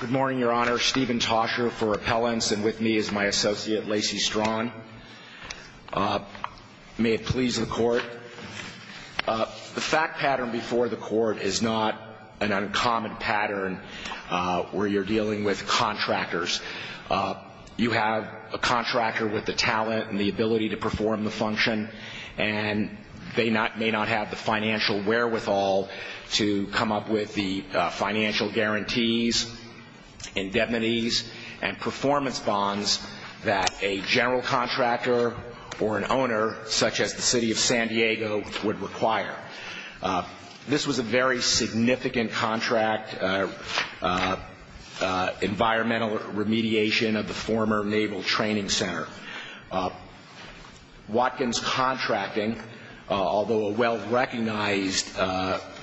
Good morning, Your Honor. Stephen Tosher for Appellants, and with me is my associate, Lacey Straughan. May it please the Court. The fact pattern before the Court is not an uncommon pattern where you're dealing with contractors. You have a contractor with the talent and the ability to perform the function, and they may not have the financial wherewithal to come up with the financial guarantees, indemnities, and performance bonds that a general contractor or an owner, such as the City of San Diego, would require. This was a very significant contract, environmental remediation of the former Naval Training Center. Watkins Contracting, although a well-recognized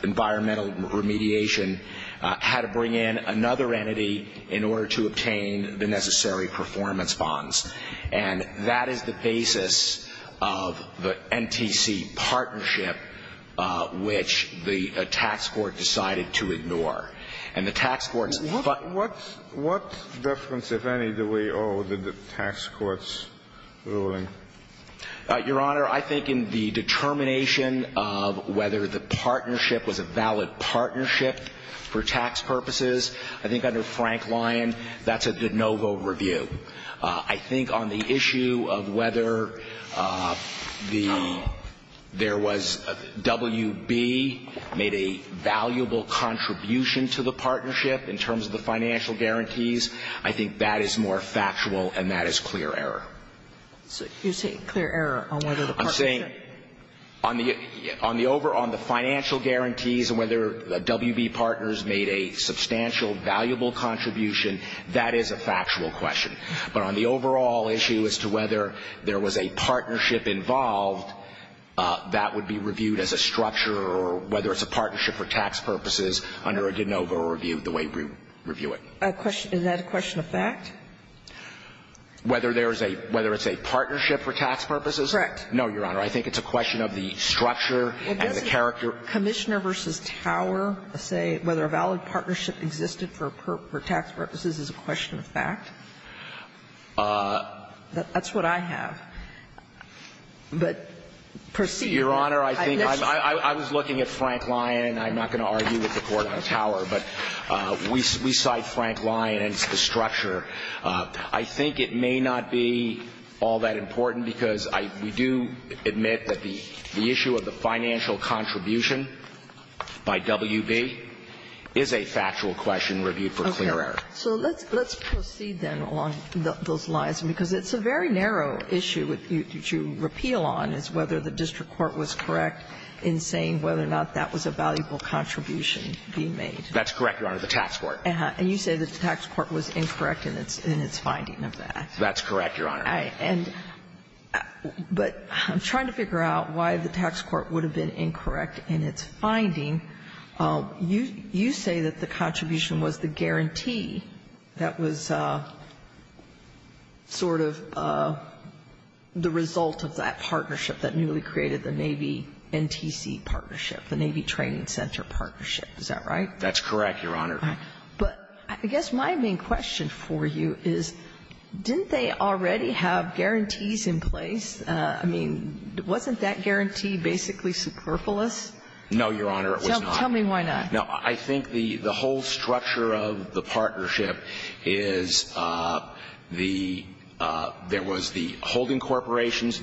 environmental remediation, had to bring in another entity in order to obtain the necessary performance bonds. And that is the basis of the NTC partnership, which the tax court decided to ignore. And the tax court's ---- What difference, if any, do we owe to the tax court's ruling? Your Honor, I think in the determination of whether the partnership was a valid partnership for tax purposes, I think under Frank Lyon, that's a de novo review. I think on the issue of whether the ---- there was a ---- WB made a valuable contribution to the partnership in terms of the financial guarantees, I think that is more factual, and that is clear error. You're saying clear error on whether the partnership ---- I'm saying on the over ---- on the financial guarantees and whether the WB partners made a substantial, valuable contribution, that is a factual question. But on the overall issue as to whether there was a partnership involved, that would be reviewed as a structure or whether it's a partnership for tax purposes under a de novo review the way we review it. Is that a question of fact? Whether there is a ---- whether it's a partnership for tax purposes? Correct. No, Your Honor. I think it's a question of the structure and the character. So for Commissioner v. Tower, say whether a valid partnership existed for tax purposes is a question of fact? That's what I have. But proceed. Your Honor, I think I was looking at Frank Lyon. I'm not going to argue with the Court on Tower, but we cite Frank Lyon and the structure. I think it may not be all that important because we do admit that the issue of the financial contribution by WB is a factual question reviewed for clear error. Okay. So let's proceed, then, along those lines, because it's a very narrow issue to repeal on is whether the district court was correct in saying whether or not that was a valuable contribution being made. That's correct, Your Honor, the tax court. And you say the tax court was incorrect in its finding of that. That's correct, Your Honor. But I'm trying to figure out why the tax court would have been incorrect in its finding. You say that the contribution was the guarantee that was sort of the result of that partnership that newly created the Navy-NTC partnership, the Navy Training Center partnership. Is that right? That's correct, Your Honor. But I guess my main question for you is, didn't they already have guarantees in place? I mean, wasn't that guarantee basically superfluous? No, Your Honor, it was not. Tell me why not. No. I think the whole structure of the partnership is the – there was the holding partners.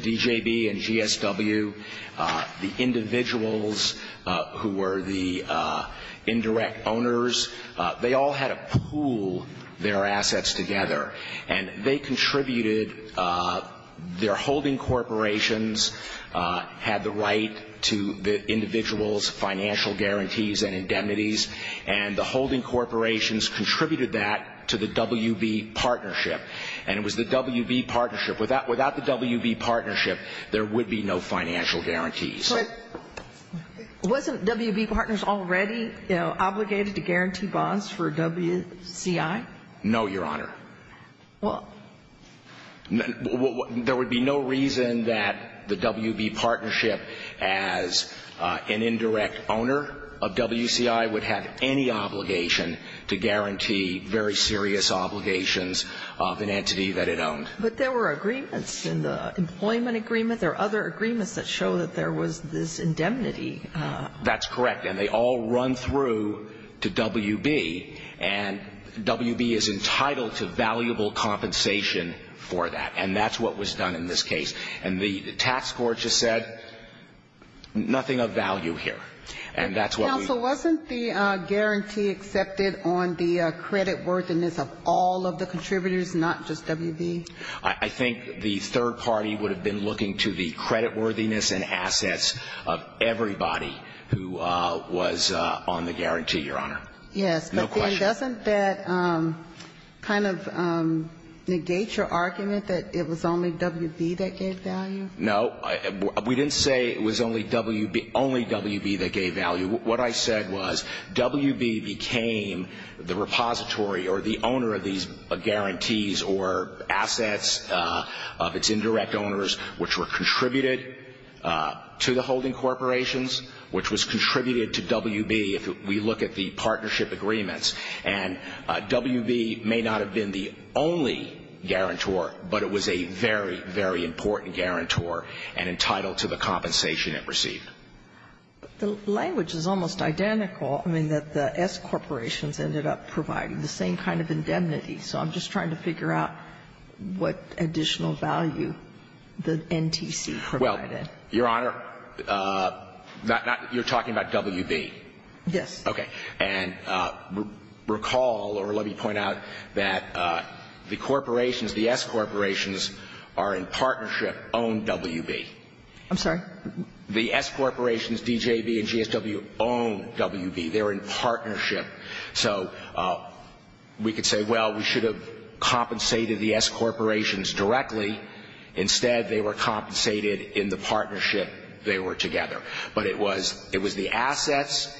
They all had to pool their assets together. And they contributed – their holding corporations had the right to the individual's financial guarantees and indemnities. And the holding corporations contributed that to the WB partnership. And it was the WB partnership. Without the WB partnership, there would be no financial guarantees. But wasn't WB partners already, you know, obligated to guarantee bonds for WCI? No, Your Honor. Well – There would be no reason that the WB partnership, as an indirect owner of WCI, would have any obligation to guarantee very serious obligations of an entity that it owned. But there were agreements in the employment agreement. There were other agreements that show that there was this indemnity. That's correct. And they all run through to WB. And WB is entitled to valuable compensation for that. And that's what was done in this case. And the tax court just said, nothing of value here. And that's what we – Counsel, wasn't the guarantee accepted on the creditworthiness of all of the contributors, not just WB? I think the third party would have been looking to the creditworthiness and assets of everybody who was on the guarantee, Your Honor. Yes. No question. But then doesn't that kind of negate your argument that it was only WB that gave value? No. We didn't say it was only WB that gave value. What I said was WB became the repository or the owner of these guarantees or assets of its indirect owners which were contributed to the holding corporations, which was contributed to WB if we look at the partnership agreements. And WB may not have been the only guarantor, but it was a very, very important guarantor and entitled to the compensation it received. But the language is almost identical. I mean, that the S corporations ended up providing the same kind of indemnity. So I'm just trying to figure out what additional value the NTC provided. Well, Your Honor, not that you're talking about WB. Yes. Okay. And recall, or let me point out, that the corporations, the S corporations are in partnership, own WB. I'm sorry? The S corporations, DJV and GSW, own WB. They're in partnership. So we could say, well, we should have compensated the S corporations directly. Instead, they were compensated in the partnership they were together. But it was the assets,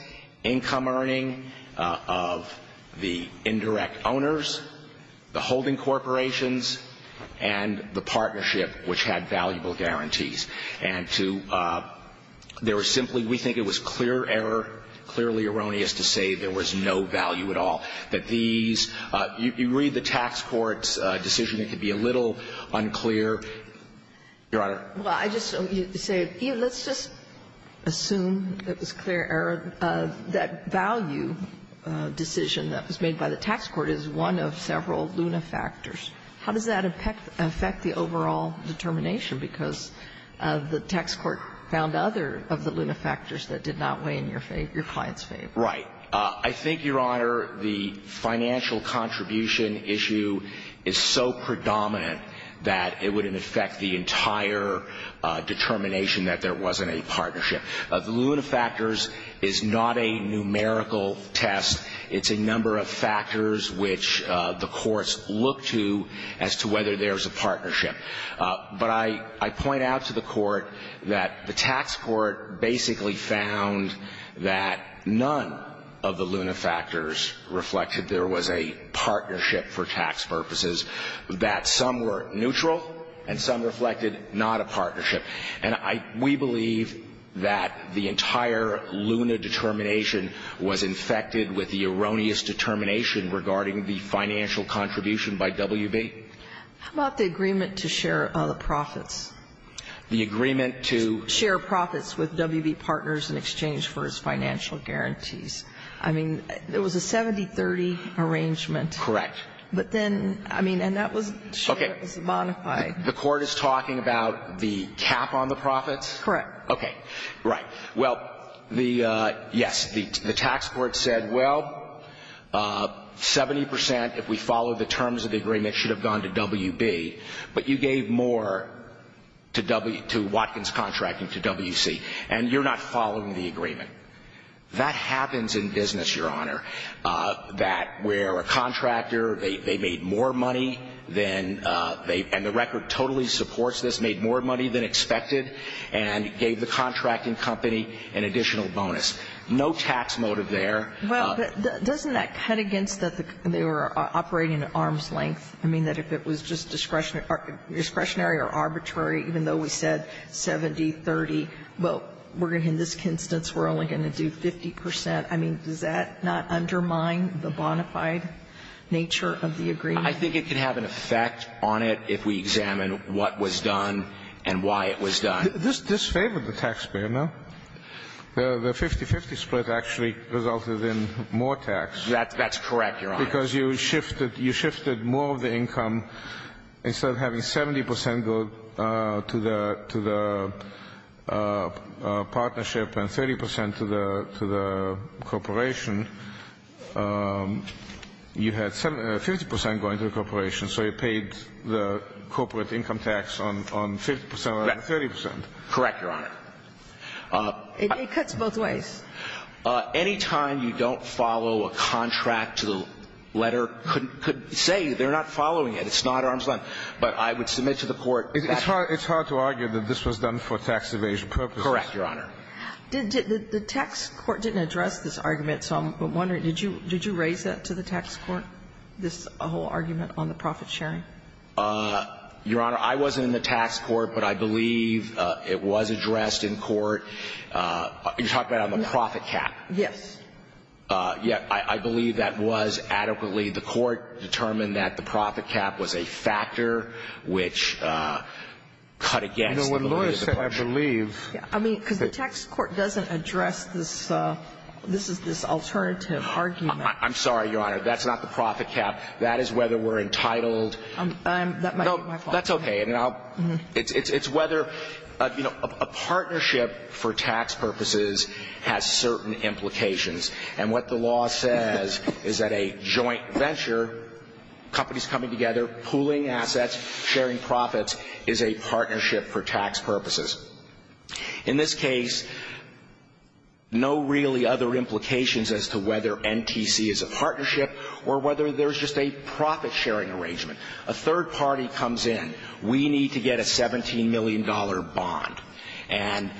income earning of the indirect owners, the holding corporations, and the partnership which had valuable guarantees. And to their simply, we think it was clear error, clearly erroneous to say there was no value at all. That these, you read the tax court's decision. It could be a little unclear. Your Honor? Well, I just say, let's just assume it was clear error. That value decision that was made by the tax court is one of several luna factors. How does that affect the overall determination? Because the tax court found other of the luna factors that did not weigh in your client's favor. Right. I think, Your Honor, the financial contribution issue is so predominant that it would affect the entire determination that there wasn't a partnership. The luna factors is not a numerical test. It's a number of factors which the courts look to as to whether there's a partnership. But I point out to the court that the tax court basically found that none of the luna factors reflected there was a partnership for tax purposes. That some were neutral and some reflected not a partnership. And I, we believe that the entire luna determination was infected with the erroneous determination regarding the financial contribution by WB. How about the agreement to share the profits? The agreement to? Share profits with WB partners in exchange for his financial guarantees. I mean, there was a 70-30 arrangement. Correct. But then, I mean, and that was shared, it was a bonafide. The court is talking about the cap on the profits? Correct. Okay. Right. Well, the, yes, the tax court said, well, 70 percent, if we follow the terms of the agreement, should have gone to WB. But you gave more to Watkins Contracting to WC. And you're not following the agreement. That happens in business, Your Honor, that where a contractor, they made more money than they, and the record totally supports this, made more money than expected and gave the contracting company an additional bonus. No tax motive there. Well, but doesn't that cut against that they were operating at arm's length? I mean, that if it was just discretionary or arbitrary, even though we said 70-30, well, we're going to, in this instance, we're only going to do 50 percent. I mean, does that not undermine the bonafide nature of the agreement? I think it could have an effect on it if we examine what was done and why it was done. This disfavored the taxpayer, no? The 50-50 split actually resulted in more tax. That's correct, Your Honor. Because you shifted more of the income. Instead of having 70 percent go to the partnership and 30 percent to the corporation, you had 50 percent going to the corporation, so you paid the corporate income tax on 50 percent rather than 30 percent. Correct, Your Honor. It cuts both ways. Any time you don't follow a contract to the letter could say they're not following it. It's not arm's length. But I would submit to the Court that's the case. It's hard to argue that this was done for tax evasion purposes. Correct, Your Honor. The tax court didn't address this argument, so I'm wondering, did you raise that to the tax court, this whole argument on the profit sharing? Your Honor, I wasn't in the tax court, but I believe it was addressed in court. You're talking about on the profit cap? Yes. Yeah. I believe that was adequately. The court determined that the profit cap was a factor which cut against the validity of the portion. I mean, because the tax court doesn't address this alternative argument. I'm sorry, Your Honor. That's not the profit cap. That is whether we're entitled. No, that's okay. It's whether a partnership for tax purposes has certain implications. And what the law says is that a joint venture, companies coming together, pooling assets, sharing profits, is a partnership for tax purposes. In this case, no really other implications as to whether NTC is a partnership or whether there's just a profit sharing arrangement. A third party comes in. We need to get a $17 million bond. And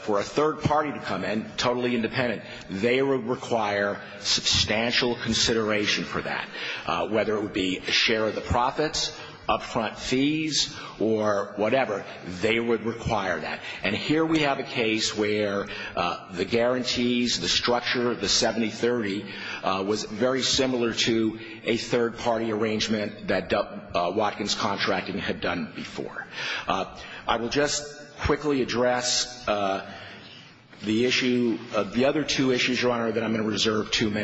for a third party to come in, totally independent, they would require substantial consideration for that, whether it would be a share of the profits, upfront fees, or whatever, they would require that. And here we have a case where the guarantees, the structure, the 70-30, was very similar to a third party arrangement that Watkins Contracting had done before. I will just quickly address the issue of the other two issues, Your Honor, that I'm talking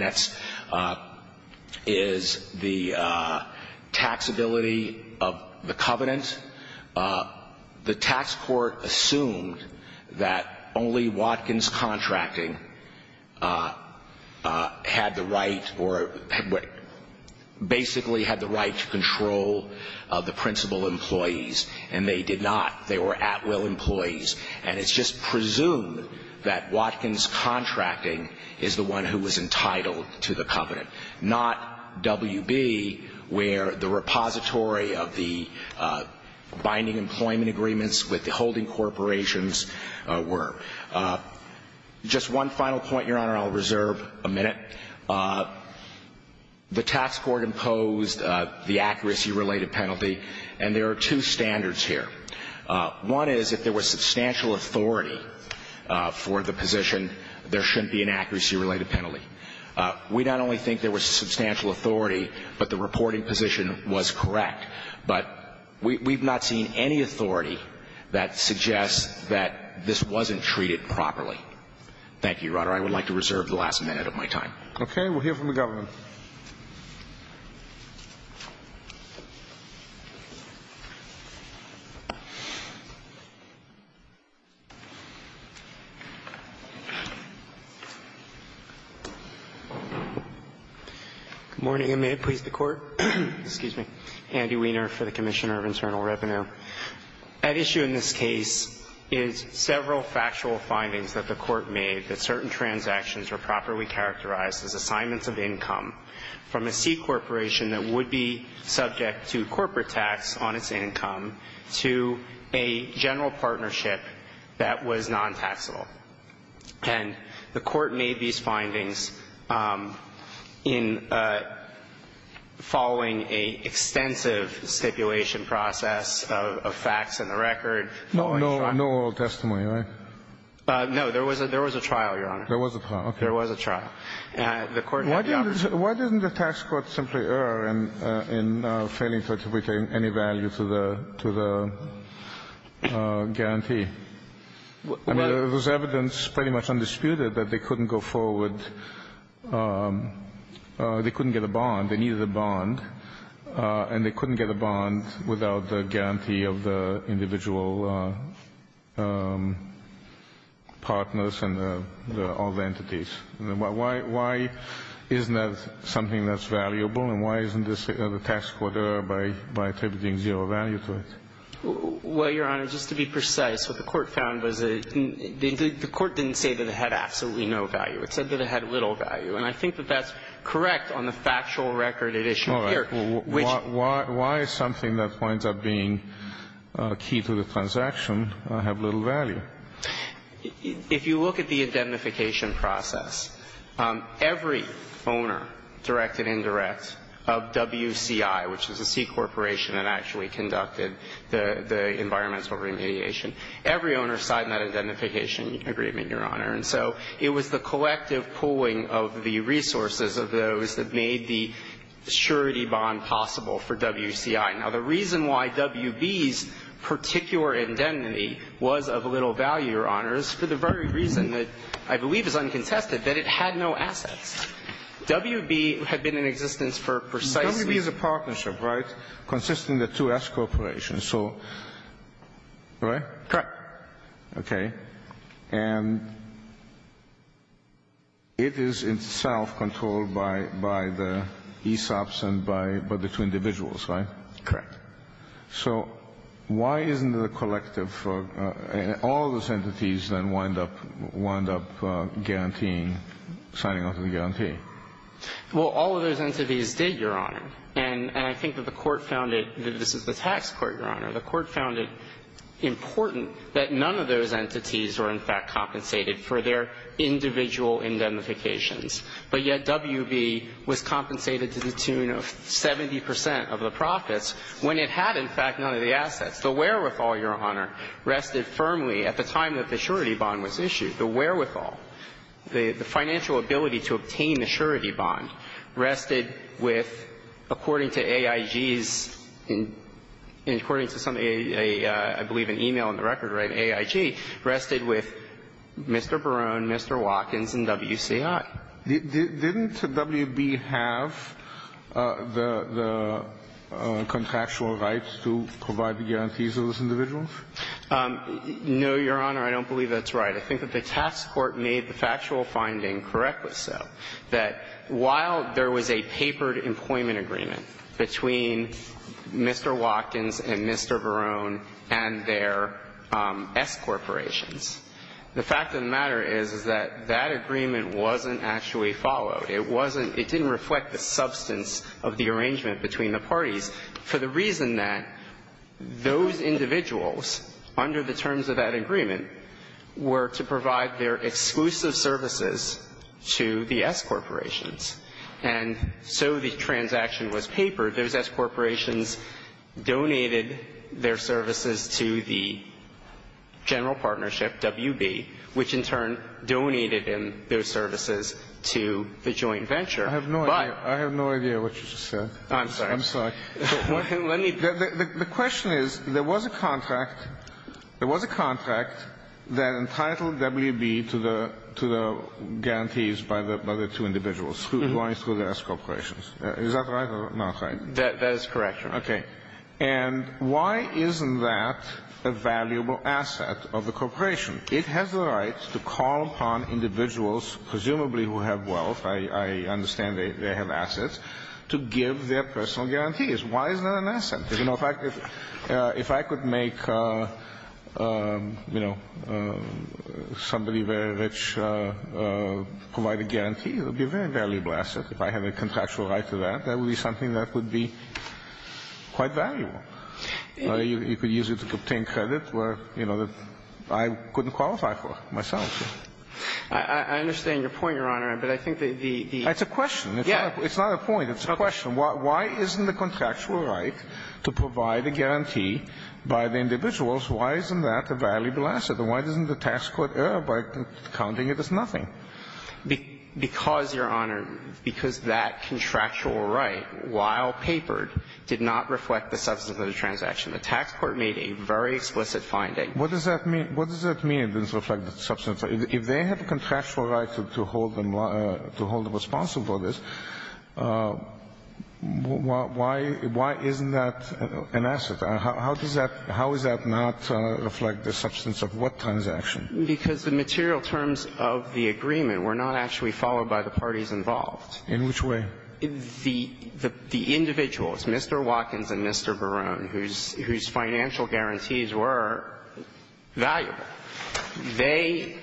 about. The tax court assumed that only Watkins Contracting had the right or basically had the right to control the principal employees, and they did not. They were at-will employees. And it's just presumed that Watkins Contracting is the one who was entitled to binding employment agreements with the holding corporations were. Just one final point, Your Honor, I'll reserve a minute. The tax court imposed the accuracy-related penalty. And there are two standards here. One is if there was substantial authority for the position, there shouldn't be an accuracy-related penalty. We not only think there was substantial authority, but the reporting position was correct. But we've not seen any authority that suggests that this wasn't treated properly. Thank you, Your Honor. I would like to reserve the last minute of my time. Okay. We'll hear from the government. Good morning. Excuse me a minute, please, the Court. Excuse me. Andy Weiner for the Commissioner of Internal Revenue. At issue in this case is several factual findings that the Court made that certain transactions were properly characterized as assignments of income from a C corporation that would be subject to corporate tax on its income to a general partnership that was non-taxable. And the Court made these findings in following an extensive stipulation process of facts and the record. No oral testimony, right? No. There was a trial, Your Honor. There was a trial. Okay. There was a trial. Why didn't the tax court simply err in failing to attribute any value to the guarantee? I mean, there was evidence pretty much undisputed that they couldn't go forward they couldn't get a bond. They needed a bond. And they couldn't get a bond without the guarantee of the individual partners and all the entities. Why isn't that something that's valuable? And why isn't the tax court err by attributing zero value to it? Well, Your Honor, just to be precise, what the Court found was that the Court didn't say that it had absolutely no value. It said that it had little value. And I think that that's correct on the factual record at issue here. All right. Why is something that winds up being key to the transaction have little value? If you look at the indemnification process, every owner, direct and indirect, of WCI, which is a C corporation that actually conducted the environmental remediation, every owner signed that indemnification agreement, Your Honor. And so it was the collective pooling of the resources of those that made the surety bond possible for WCI. Now, the reason why WB's particular indemnity was of little value, Your Honor, is for the very reason that I believe is uncontested, that it had no assets. WB had been in existence for precisely. WB is a partnership, right? Consisting of two S corporations. So, right? Correct. Okay. And it is itself controlled by the ESOPs and by the two individuals, right? Correct. So why isn't the collective for all those entities that wind up guaranteeing or signing off of the guarantee? Well, all of those entities did, Your Honor. And I think that the Court found it that this is the tax court, Your Honor. The Court found it important that none of those entities were, in fact, compensated for their individual indemnifications. But yet WB was compensated to the tune of 70 percent of the profits when it had, in fact, none of the assets. The wherewithal, Your Honor, rested firmly at the time that the surety bond was issued. The wherewithal. The financial ability to obtain the surety bond rested with, according to AIG's and according to some, I believe, an e-mail in the record, right, AIG, rested with Mr. Barone, Mr. Watkins, and WCI. Didn't WB have the contractual rights to provide the guarantees of those individuals? No, Your Honor. I don't believe that's right. I think that the tax court made the factual finding correct with so. That while there was a papered employment agreement between Mr. Watkins and Mr. Barone and their S corporations, the fact of the matter is, is that that agreement wasn't actually followed. It wasn't – it didn't reflect the substance of the arrangement between the parties for the reason that those individuals, under the terms of that agreement, were to provide their exclusive services to the S corporations. And so the transaction was papered. Those S corporations donated their services to the general partnership, WB, which in turn donated those services to the joint venture. But – I have no idea what you just said. I'm sorry. Let me – The question is, there was a contract – there was a contract that entitled WB to the guarantees by the two individuals, going through the S corporations. Is that right or not right? That is correct, Your Honor. Okay. And why isn't that a valuable asset of the corporation? It has the right to call upon individuals, presumably who have wealth – I understand they have assets – to give their personal guarantees. Why is that an asset? In fact, if I could make, you know, somebody very rich provide a guarantee, it would be a very valuable asset. If I have a contractual right to that, that would be something that would be quite valuable. You could use it to obtain credit where, you know, I couldn't qualify for myself. I understand your point, Your Honor, but I think the – It's a question. It's not a point. It's a question. Why isn't the contractual right to provide a guarantee by the individuals, why isn't that a valuable asset? And why doesn't the tax court err by counting it as nothing? Because, Your Honor, because that contractual right, while papered, did not reflect the substance of the transaction. The tax court made a very explicit finding. What does that mean? What does that mean, it doesn't reflect the substance? If they have a contractual right to hold them responsible for this, why isn't that an asset? How does that – how does that not reflect the substance of what transaction? Because the material terms of the agreement were not actually followed by the parties involved. In which way? The individuals, Mr. Watkins and Mr. Barone, whose financial guarantees were valuable, they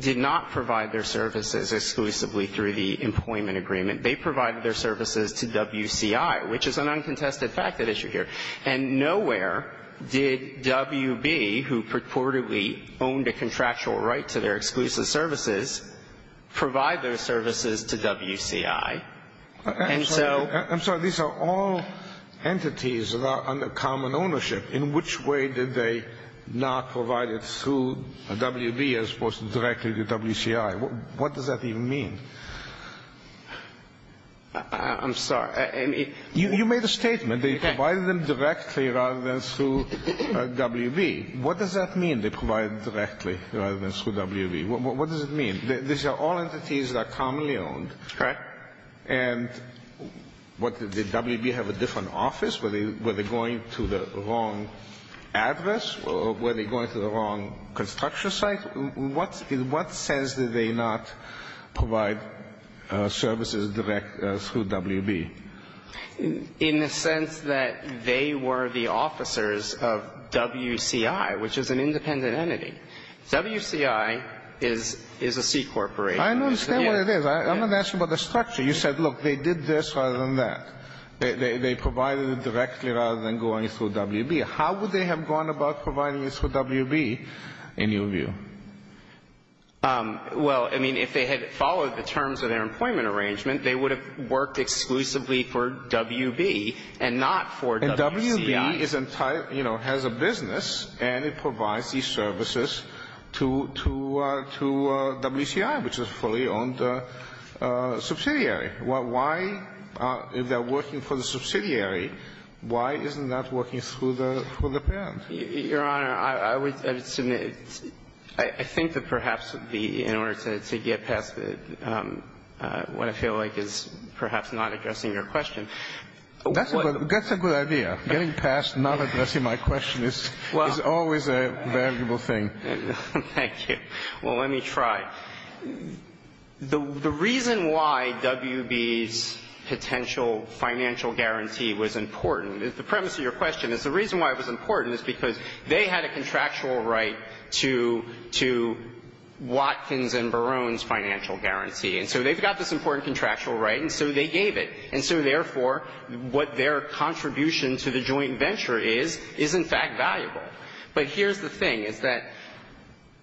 did not provide their services exclusively through the employment agreement. They provided their services to WCI, which is an uncontested fact at issue here. And nowhere did WB, who purportedly owned a contractual right to their exclusive services, provide those services to WCI. And so – I'm sorry. These are all entities that are under common ownership. In which way did they not provide it through WB as opposed to directly to WCI? What does that even mean? I'm sorry. You made a statement. They provided them directly rather than through WB. What does that mean, they provided directly rather than through WB? What does it mean? These are all entities that are commonly owned. Correct. And what, did WB have a different office? Were they going to the wrong address? Were they going to the wrong construction site? In what sense did they not provide services direct through WB? In the sense that they were the officers of WCI, which is an independent entity. WCI is a C corporation. I don't understand what it is. I'm not asking about the structure. You said, look, they did this rather than that. They provided it directly rather than going through WB. How would they have gone about providing it through WB in your view? Well, I mean, if they had followed the terms of their employment arrangement, they would have worked exclusively for WB and not for WCI. But if they are working for the subsidiary, why isn't that working for the parent? Your Honor, I would submit, I think that perhaps in order to get past what I feel like is perhaps not addressing your question. That's a good idea. Getting past not addressing my question is always a valuable thing. Thank you. Well, let me try. The reason why WB's potential financial guarantee was important, the premise of your question is the reason why it was important is because they had a contractual right to Watkins and Barone's financial guarantee. And so they've got this important contractual right, and so they gave it. And so, therefore, what their contribution to the joint venture is, is in fact valuable. But here's the thing, is that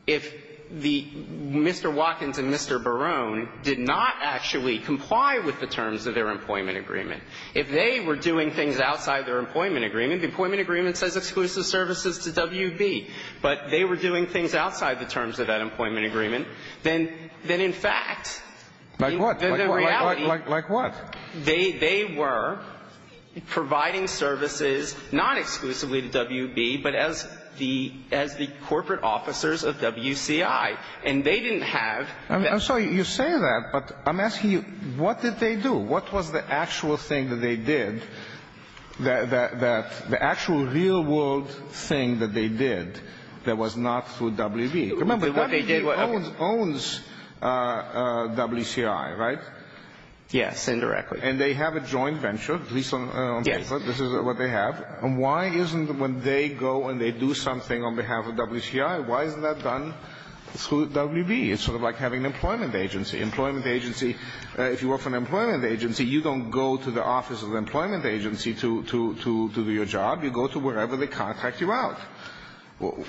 if the Mr. Watkins and Mr. Barone did not actually comply with the terms of their employment agreement, if they were doing things outside their employment agreement, the employment agreement says exclusive services to WB, but they were doing things outside the terms of that employment agreement, then in fact the reality they were providing services not exclusively to WB, but as the corporate officers of WCI. And they didn't have that. I'm sorry you say that, but I'm asking you, what did they do? What was the actual thing that they did, the actual real world thing that they did that was not through WB? Remember, WB owns WCI, right? Yes, indirectly. And they have a joint venture, at least on paper, this is what they have. And why isn't, when they go and they do something on behalf of WCI, why isn't that done through WB? It's sort of like having an employment agency. Employment agency, if you work for an employment agency, you don't go to the office of the employment agency to do your job. You go to wherever they contact you out.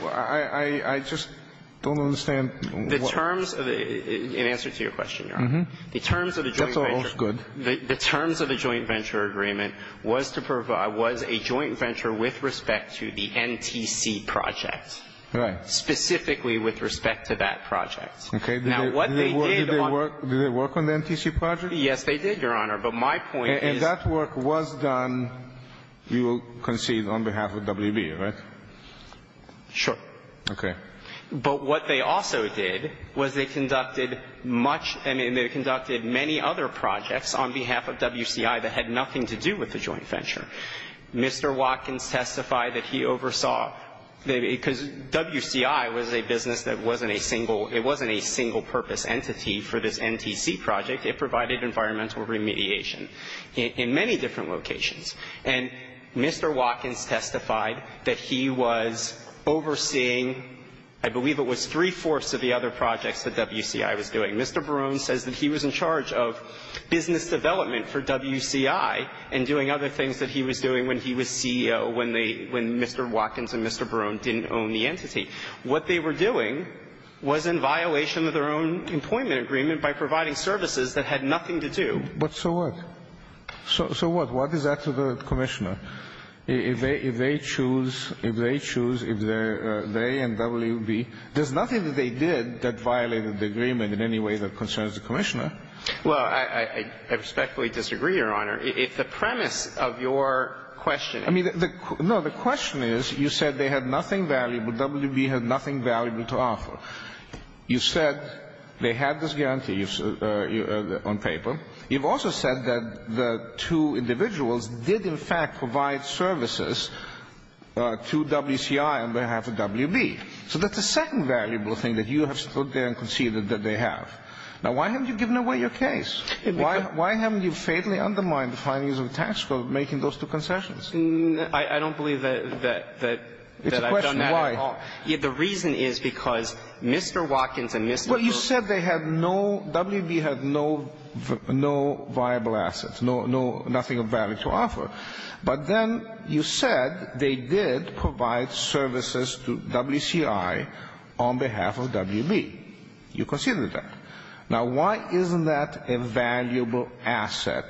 I just don't understand. The terms of the, in answer to your question, Your Honor. The terms of the joint venture. That's all good. The terms of the joint venture agreement was to provide, was a joint venture with respect to the NTC project. Right. Specifically with respect to that project. Okay. Now, what they did on. Did they work on the NTC project? Yes, they did, Your Honor. But my point is. And that work was done, you will concede, on behalf of WB, right? Sure. Okay. But what they also did was they conducted much, I mean, they conducted many other projects on behalf of WCI that had nothing to do with the joint venture. Mr. Watkins testified that he oversaw, because WCI was a business that wasn't a single, it wasn't a single purpose entity for this NTC project. It provided environmental remediation in many different locations. And Mr. Watkins testified that he was overseeing, I believe it was three-fourths of the other projects that WCI was doing. Mr. Barone says that he was in charge of business development for WCI and doing other things that he was doing when he was CEO, when they, when Mr. Watkins and Mr. Barone didn't own the entity. What they were doing was in violation of their own employment agreement by providing services that had nothing to do. But so what? So what? What is that to the Commissioner? If they choose, if they choose, if they and WB, there's nothing that they did that violated the agreement in any way that concerns the Commissioner. Well, I respectfully disagree, Your Honor. If the premise of your question is the question is you said they had nothing valuable, WB had nothing valuable to offer. You said they had this guarantee on paper. You've also said that the two individuals did, in fact, provide services to WCI on behalf of WB. So that's a second valuable thing that you have stood there and conceded that they have. Now, why haven't you given away your case? Why haven't you fatally undermined the findings of the tax code making those two concessions? I don't believe that I've done that at all. It's a question of why. The reason is because Mr. Watkins and Mr. Barone. Well, you said they had no, WB had no, no viable assets, no, no, nothing of value to offer. But then you said they did provide services to WCI on behalf of WB. You conceded that. Now, why isn't that a valuable asset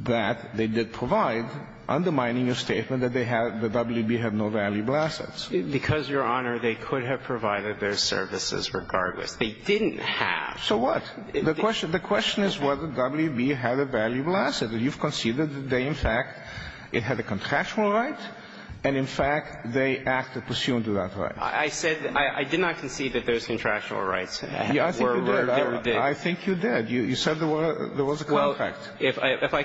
that they did provide, undermining your statement that they had, that WB had no valuable assets? Because, Your Honor, they could have provided their services regardless. They didn't have. So what? The question is whether WB had a valuable asset. You've conceded that they, in fact, it had a contractual right, and, in fact, they acted pursuant to that right. I said I did not concede that those contractual rights were there. I think you did. You said there was a contract. Well, if I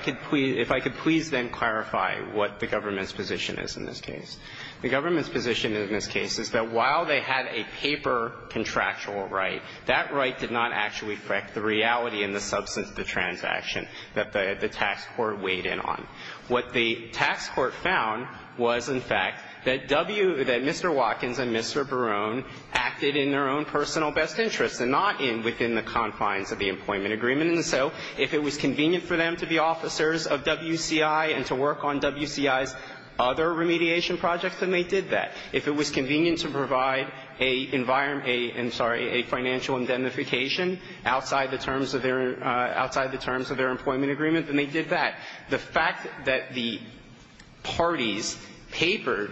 could please then clarify what the government's position is in this case. The government's position in this case is that while they had a paper contractual right, that right did not actually affect the reality and the substance of the transaction that the tax court weighed in on. What the tax court found was, in fact, that W, that Mr. Watkins and Mr. Barone acted in their own personal best interests and not within the confines of the employment agreement. And so if it was convenient for them to be officers of WCI and to work on WCI's other remediation projects, then they did that. If it was convenient to provide a environment, I'm sorry, a financial indemnification outside the terms of their employment agreement, then they did that. The fact that the parties papered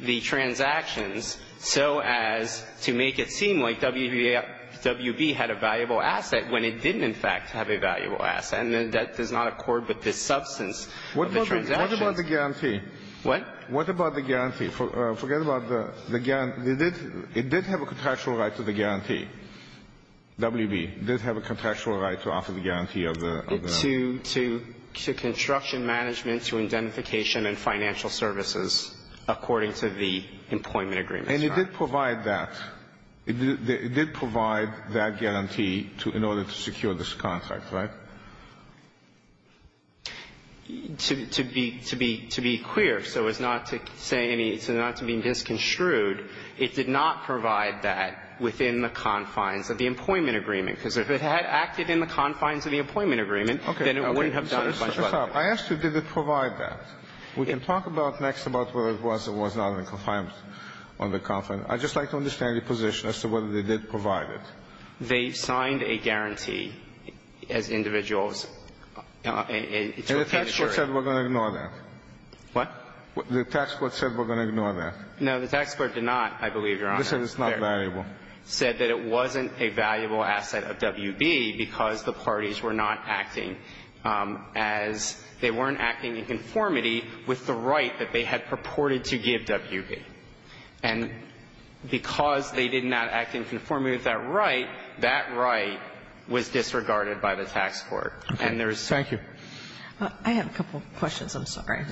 the transactions so as to make it seem like WB had a valuable asset when it didn't, in fact, have a valuable asset, and that does not accord with the substance of the transaction. What about the guarantee? What? What about the guarantee? Forget about the guarantee. It did have a contractual right to the guarantee, WB. It did have a contractual right to offer the guarantee of the contract. To construction management, to indemnification and financial services, according to the employment agreement. And it did provide that. It did provide that guarantee in order to secure this contract, right? To be queer, so as not to say any, so as not to be misconstrued, it did not provide that within the confines of the employment agreement, because if it had acted in the confines of the employment agreement, then it wouldn't have done a bunch of other things. Okay. I asked you, did it provide that? We can talk about next about whether it was or was not in confines on the conference. I'd just like to understand your position as to whether they did provide it. They signed a guarantee as individuals. And the tax court said we're going to ignore that. What? The tax court said we're going to ignore that. No, the tax court did not, I believe, Your Honor. They said it's not valuable. Said that it wasn't a valuable asset of WB because the parties were not acting as they weren't acting in conformity with the right that they had purported to give WB. And because they did not act in conformity with that right, that right was disregarded by the tax court. And there's some of that. Thank you. I have a couple of questions. I'm sorry.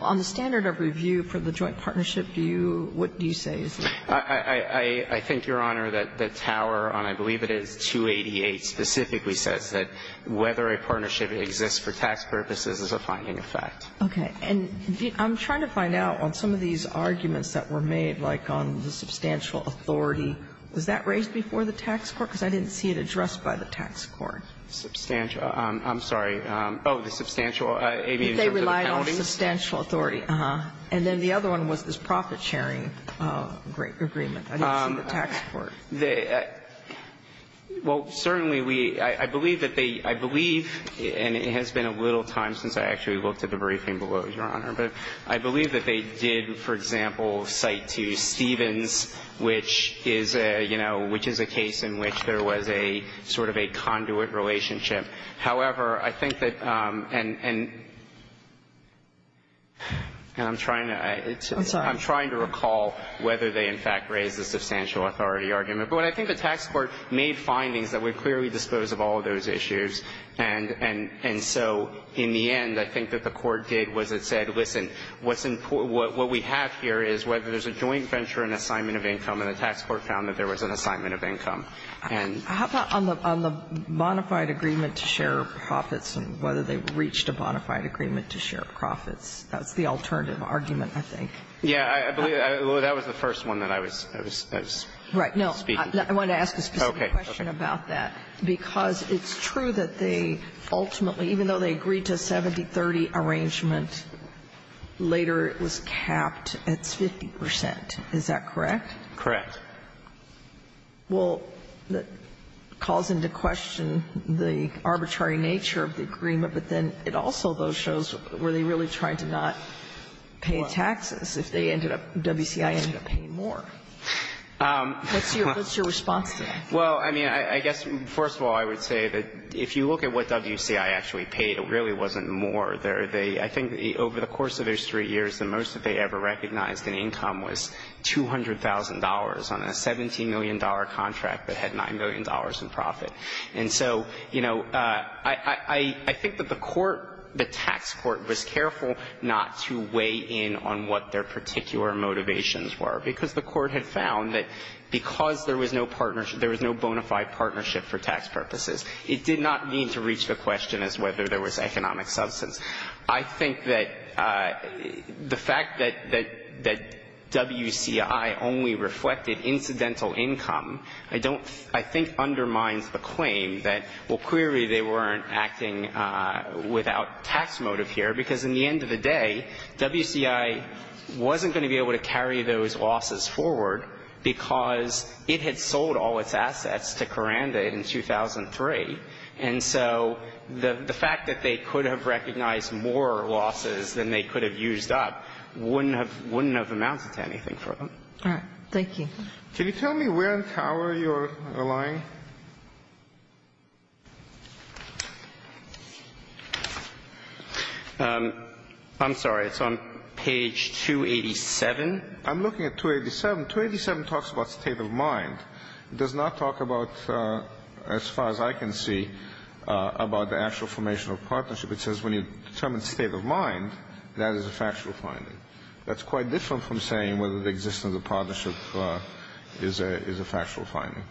On the standard of review for the joint partnership, do you, what do you say? I think, Your Honor, that Tower on, I believe it is, 288 specifically says that whether a partnership exists for tax purposes is a finding of fact. Okay. And I'm trying to find out, on some of these arguments that were made, like on the substantial authority, was that raised before the tax court? Because I didn't see it addressed by the tax court. Substantial. I'm sorry. Oh, the substantial. They relied on substantial authority. And then the other one was this profit-sharing agreement. I didn't see the tax court. Well, certainly, we, I believe that they, I believe, and it has been a little time since I actually looked at the briefing below, Your Honor, but I believe that they did, for example, cite to Stevens, which is a, you know, which is a case in which there was a sort of a conduit relationship. However, I think that, and I'm trying to, I'm trying to recall whether they in fact raised the substantial authority argument. But I think the tax court made findings that would clearly dispose of all of those issues, and so in the end, I think that the court did was it said, listen, what's important, what we have here is whether there's a joint venture in assignment of income, and the tax court found that there was an assignment of income. And how about on the bonafide agreement to share profits and whether they reached a bonafide agreement to share profits? That's the alternative argument, I think. Yeah, I believe that was the first one that I was speaking to. Right. No, I wanted to ask a specific question about that. Okay. Because it's true that they ultimately, even though they agreed to a 70-30 arrangement, later it was capped at 50 percent. Is that correct? Correct. Well, that calls into question the arbitrary nature of the agreement, but then it also shows were they really trying to not pay taxes if they ended up, WCI ended up paying more? What's your response to that? Well, I mean, I guess first of all, I would say that if you look at what WCI actually paid, it really wasn't more. I think over the course of those three years, the most that they ever recognized in income was $200,000 on a $17 million contract that had $9 million in profit. And so, you know, I think that the court, the tax court was careful not to weigh in on what their particular motivations were. Because the court had found that because there was no partnership, there was no bona fide partnership for tax purposes, it did not mean to reach the question as whether there was economic substance. I think that the fact that WCI only reflected incidental income, I don't, I think undermines the claim that, well, clearly they weren't acting without tax motive here, because in the end of the day, WCI wasn't going to be able to carry those losses forward because it had sold all its assets to Karanda in 2003. And so the fact that they could have recognized more losses than they could have used up wouldn't have, wouldn't have amounted to anything for them. All right. Thank you. Can you tell me where in Tower you're relying? I'm sorry. It's on page 287. I'm looking at 287. 287 talks about state of mind. It does not talk about, as far as I can see, about the actual formation of partnership. It says when you determine state of mind, that is a factual finding. That's quite different from saying whether the existence of partnership is a, is a factual finding.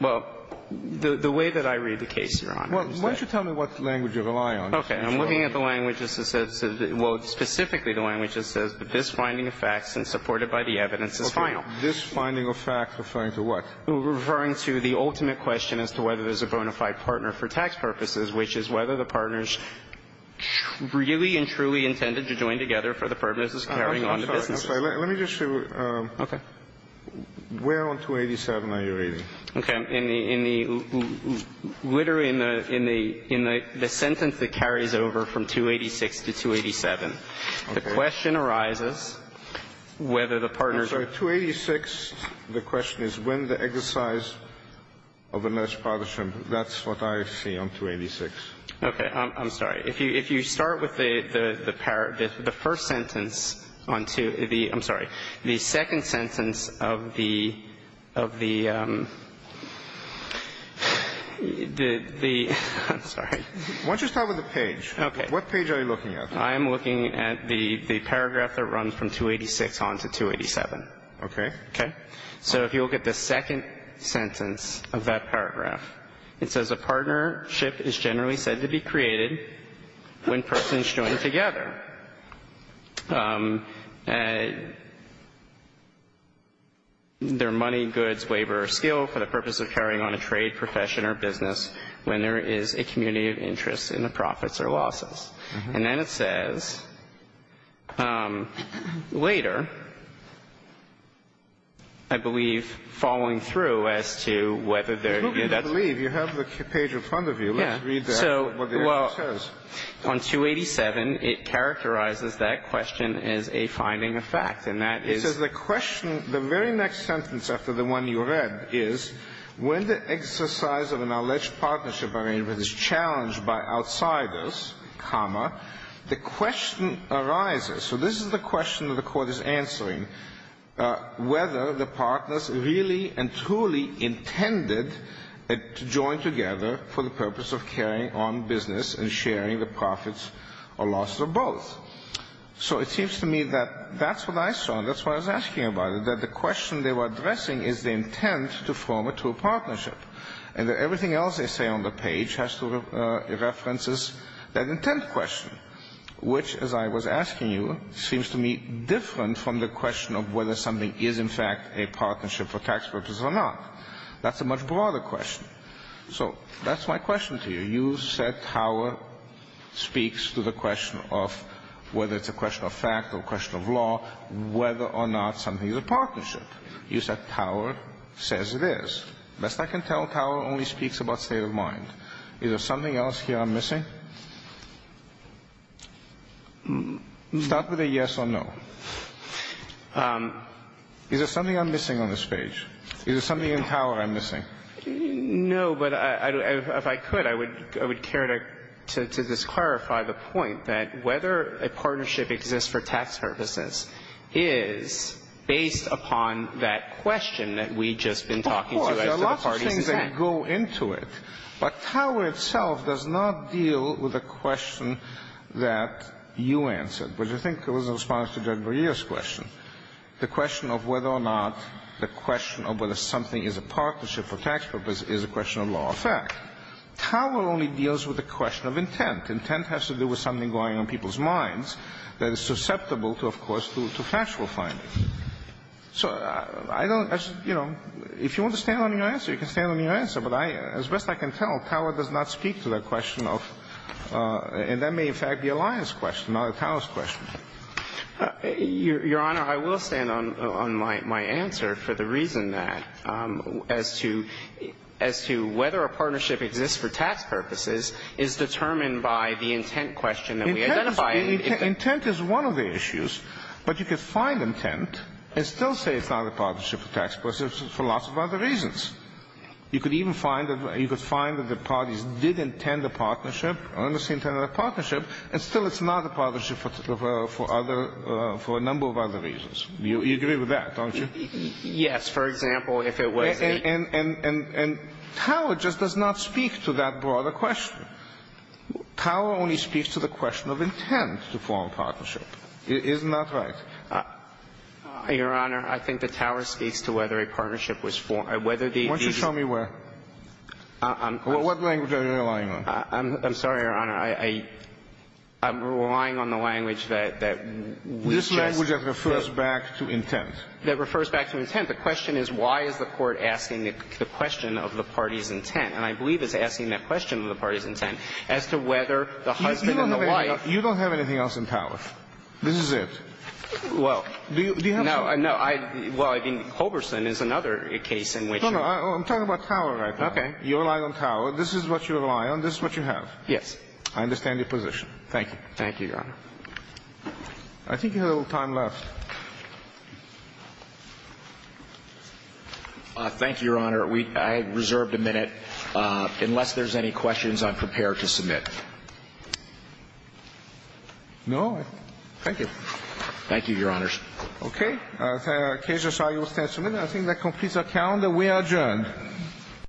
Well, the way that I read the case, Your Honor, is that. Why don't you tell me what language you rely on. Okay. I'm looking at the language that says, well, specifically the language that says that this finding of facts and supported by the evidence is final. This finding of facts referring to what? Referring to the ultimate question as to whether there's a bona fide partner for tax purposes carrying on the business. I'm sorry. Let me just show you. Okay. Where on 287 are you reading? Okay. In the, in the, in the, in the sentence that carries over from 286 to 287. Okay. The question arises whether the partners are. I'm sorry. 286, the question is when the exercise of a nice partnership. That's what I see on 286. Okay. I'm sorry. If you, if you start with the, the, the first sentence on two, the, I'm sorry, the second sentence of the, of the, the, the, I'm sorry. Why don't you start with the page? Okay. What page are you looking at? I'm looking at the, the paragraph that runs from 286 on to 287. Okay. Okay. So if you look at the second sentence of that paragraph, it says a partnership is generally said to be created when persons join together. Their money, goods, labor, or skill for the purpose of carrying on a trade, profession, or business when there is a community of interest in the profits or losses. And then it says later, I believe, following through as to whether there. I believe you have the page in front of you. Let's read that. So, well, on 287, it characterizes that question as a finding of fact. And that is. It says the question, the very next sentence after the one you read is when the exercise of an alleged partnership is challenged by outsiders, the question arises. So this is the question that the Court is answering, whether the partners really and truly intended to join together for the purpose of carrying on business and sharing the profits or losses of both. So it seems to me that that's what I saw and that's why I was asking about it, that the question they were addressing is the intent to form a true partnership. And that everything else they say on the page has to reference that intent question, which, as I was asking you, seems to me different from the question of whether something is in fact a partnership for tax purposes or not. That's a much broader question. So that's my question to you. You said power speaks to the question of whether it's a question of fact or a question of law, whether or not something is a partnership. You said power says it is. Best I can tell, power only speaks about state of mind. Is there something else here I'm missing? Start with a yes or no. Is there something I'm missing on this page? Is there something in power I'm missing? No, but if I could, I would care to just clarify the point that whether a partnership exists for tax purposes is based upon that question that we've just been talking to as to the parties in question. I could go into it, but power itself does not deal with the question that you answered, which I think was in response to Judge Barilla's question, the question of whether or not the question of whether something is a partnership for tax purposes is a question of law or fact. Power only deals with the question of intent. Intent has to do with something going on in people's minds that is susceptible to, of course, factual findings. So I don't, you know, if you want to stand on your answer, you can stand on your answer, but as best I can tell, power does not speak to the question of, and that may in fact be a lion's question, not a cow's question. Your Honor, I will stand on my answer for the reason that as to whether a partnership exists for tax purposes is determined by the intent question that we identify. Intent is one of the issues, but you could find intent and still say it's not a partnership for tax purposes for lots of other reasons. You could even find that the parties did intend a partnership, earnestly intended a partnership, and still it's not a partnership for other, for a number of other reasons. You agree with that, don't you? Yes. For example, if it was the ---- And power just does not speak to that broader question. Power only speaks to the question of intent to form a partnership. Isn't that right? Your Honor, I think that power speaks to whether a partnership was formed. Whether the ---- Why don't you tell me where? What language are you relying on? I'm sorry, Your Honor. I'm relying on the language that we just ---- This language that refers back to intent. That refers back to intent. The question is why is the Court asking the question of the party's intent? And I believe it's asking that question of the party's intent as to whether the husband and the wife ---- You don't have anything else in power. This is it. Well. Do you have to? No. No. I mean, Holberson is another case in which ---- No, no. I'm talking about power right now. Okay. You rely on power. This is what you rely on. This is what you have. I understand your position. Thank you. Thank you, Your Honor. I think you have a little time left. Thank you, Your Honor. I reserve a minute. Unless there's any questions, I'm prepared to submit. No? Thank you. Thank you, Your Honors. Okay. The case is signed. You will stand for a minute. I think that completes our calendar. We are adjourned.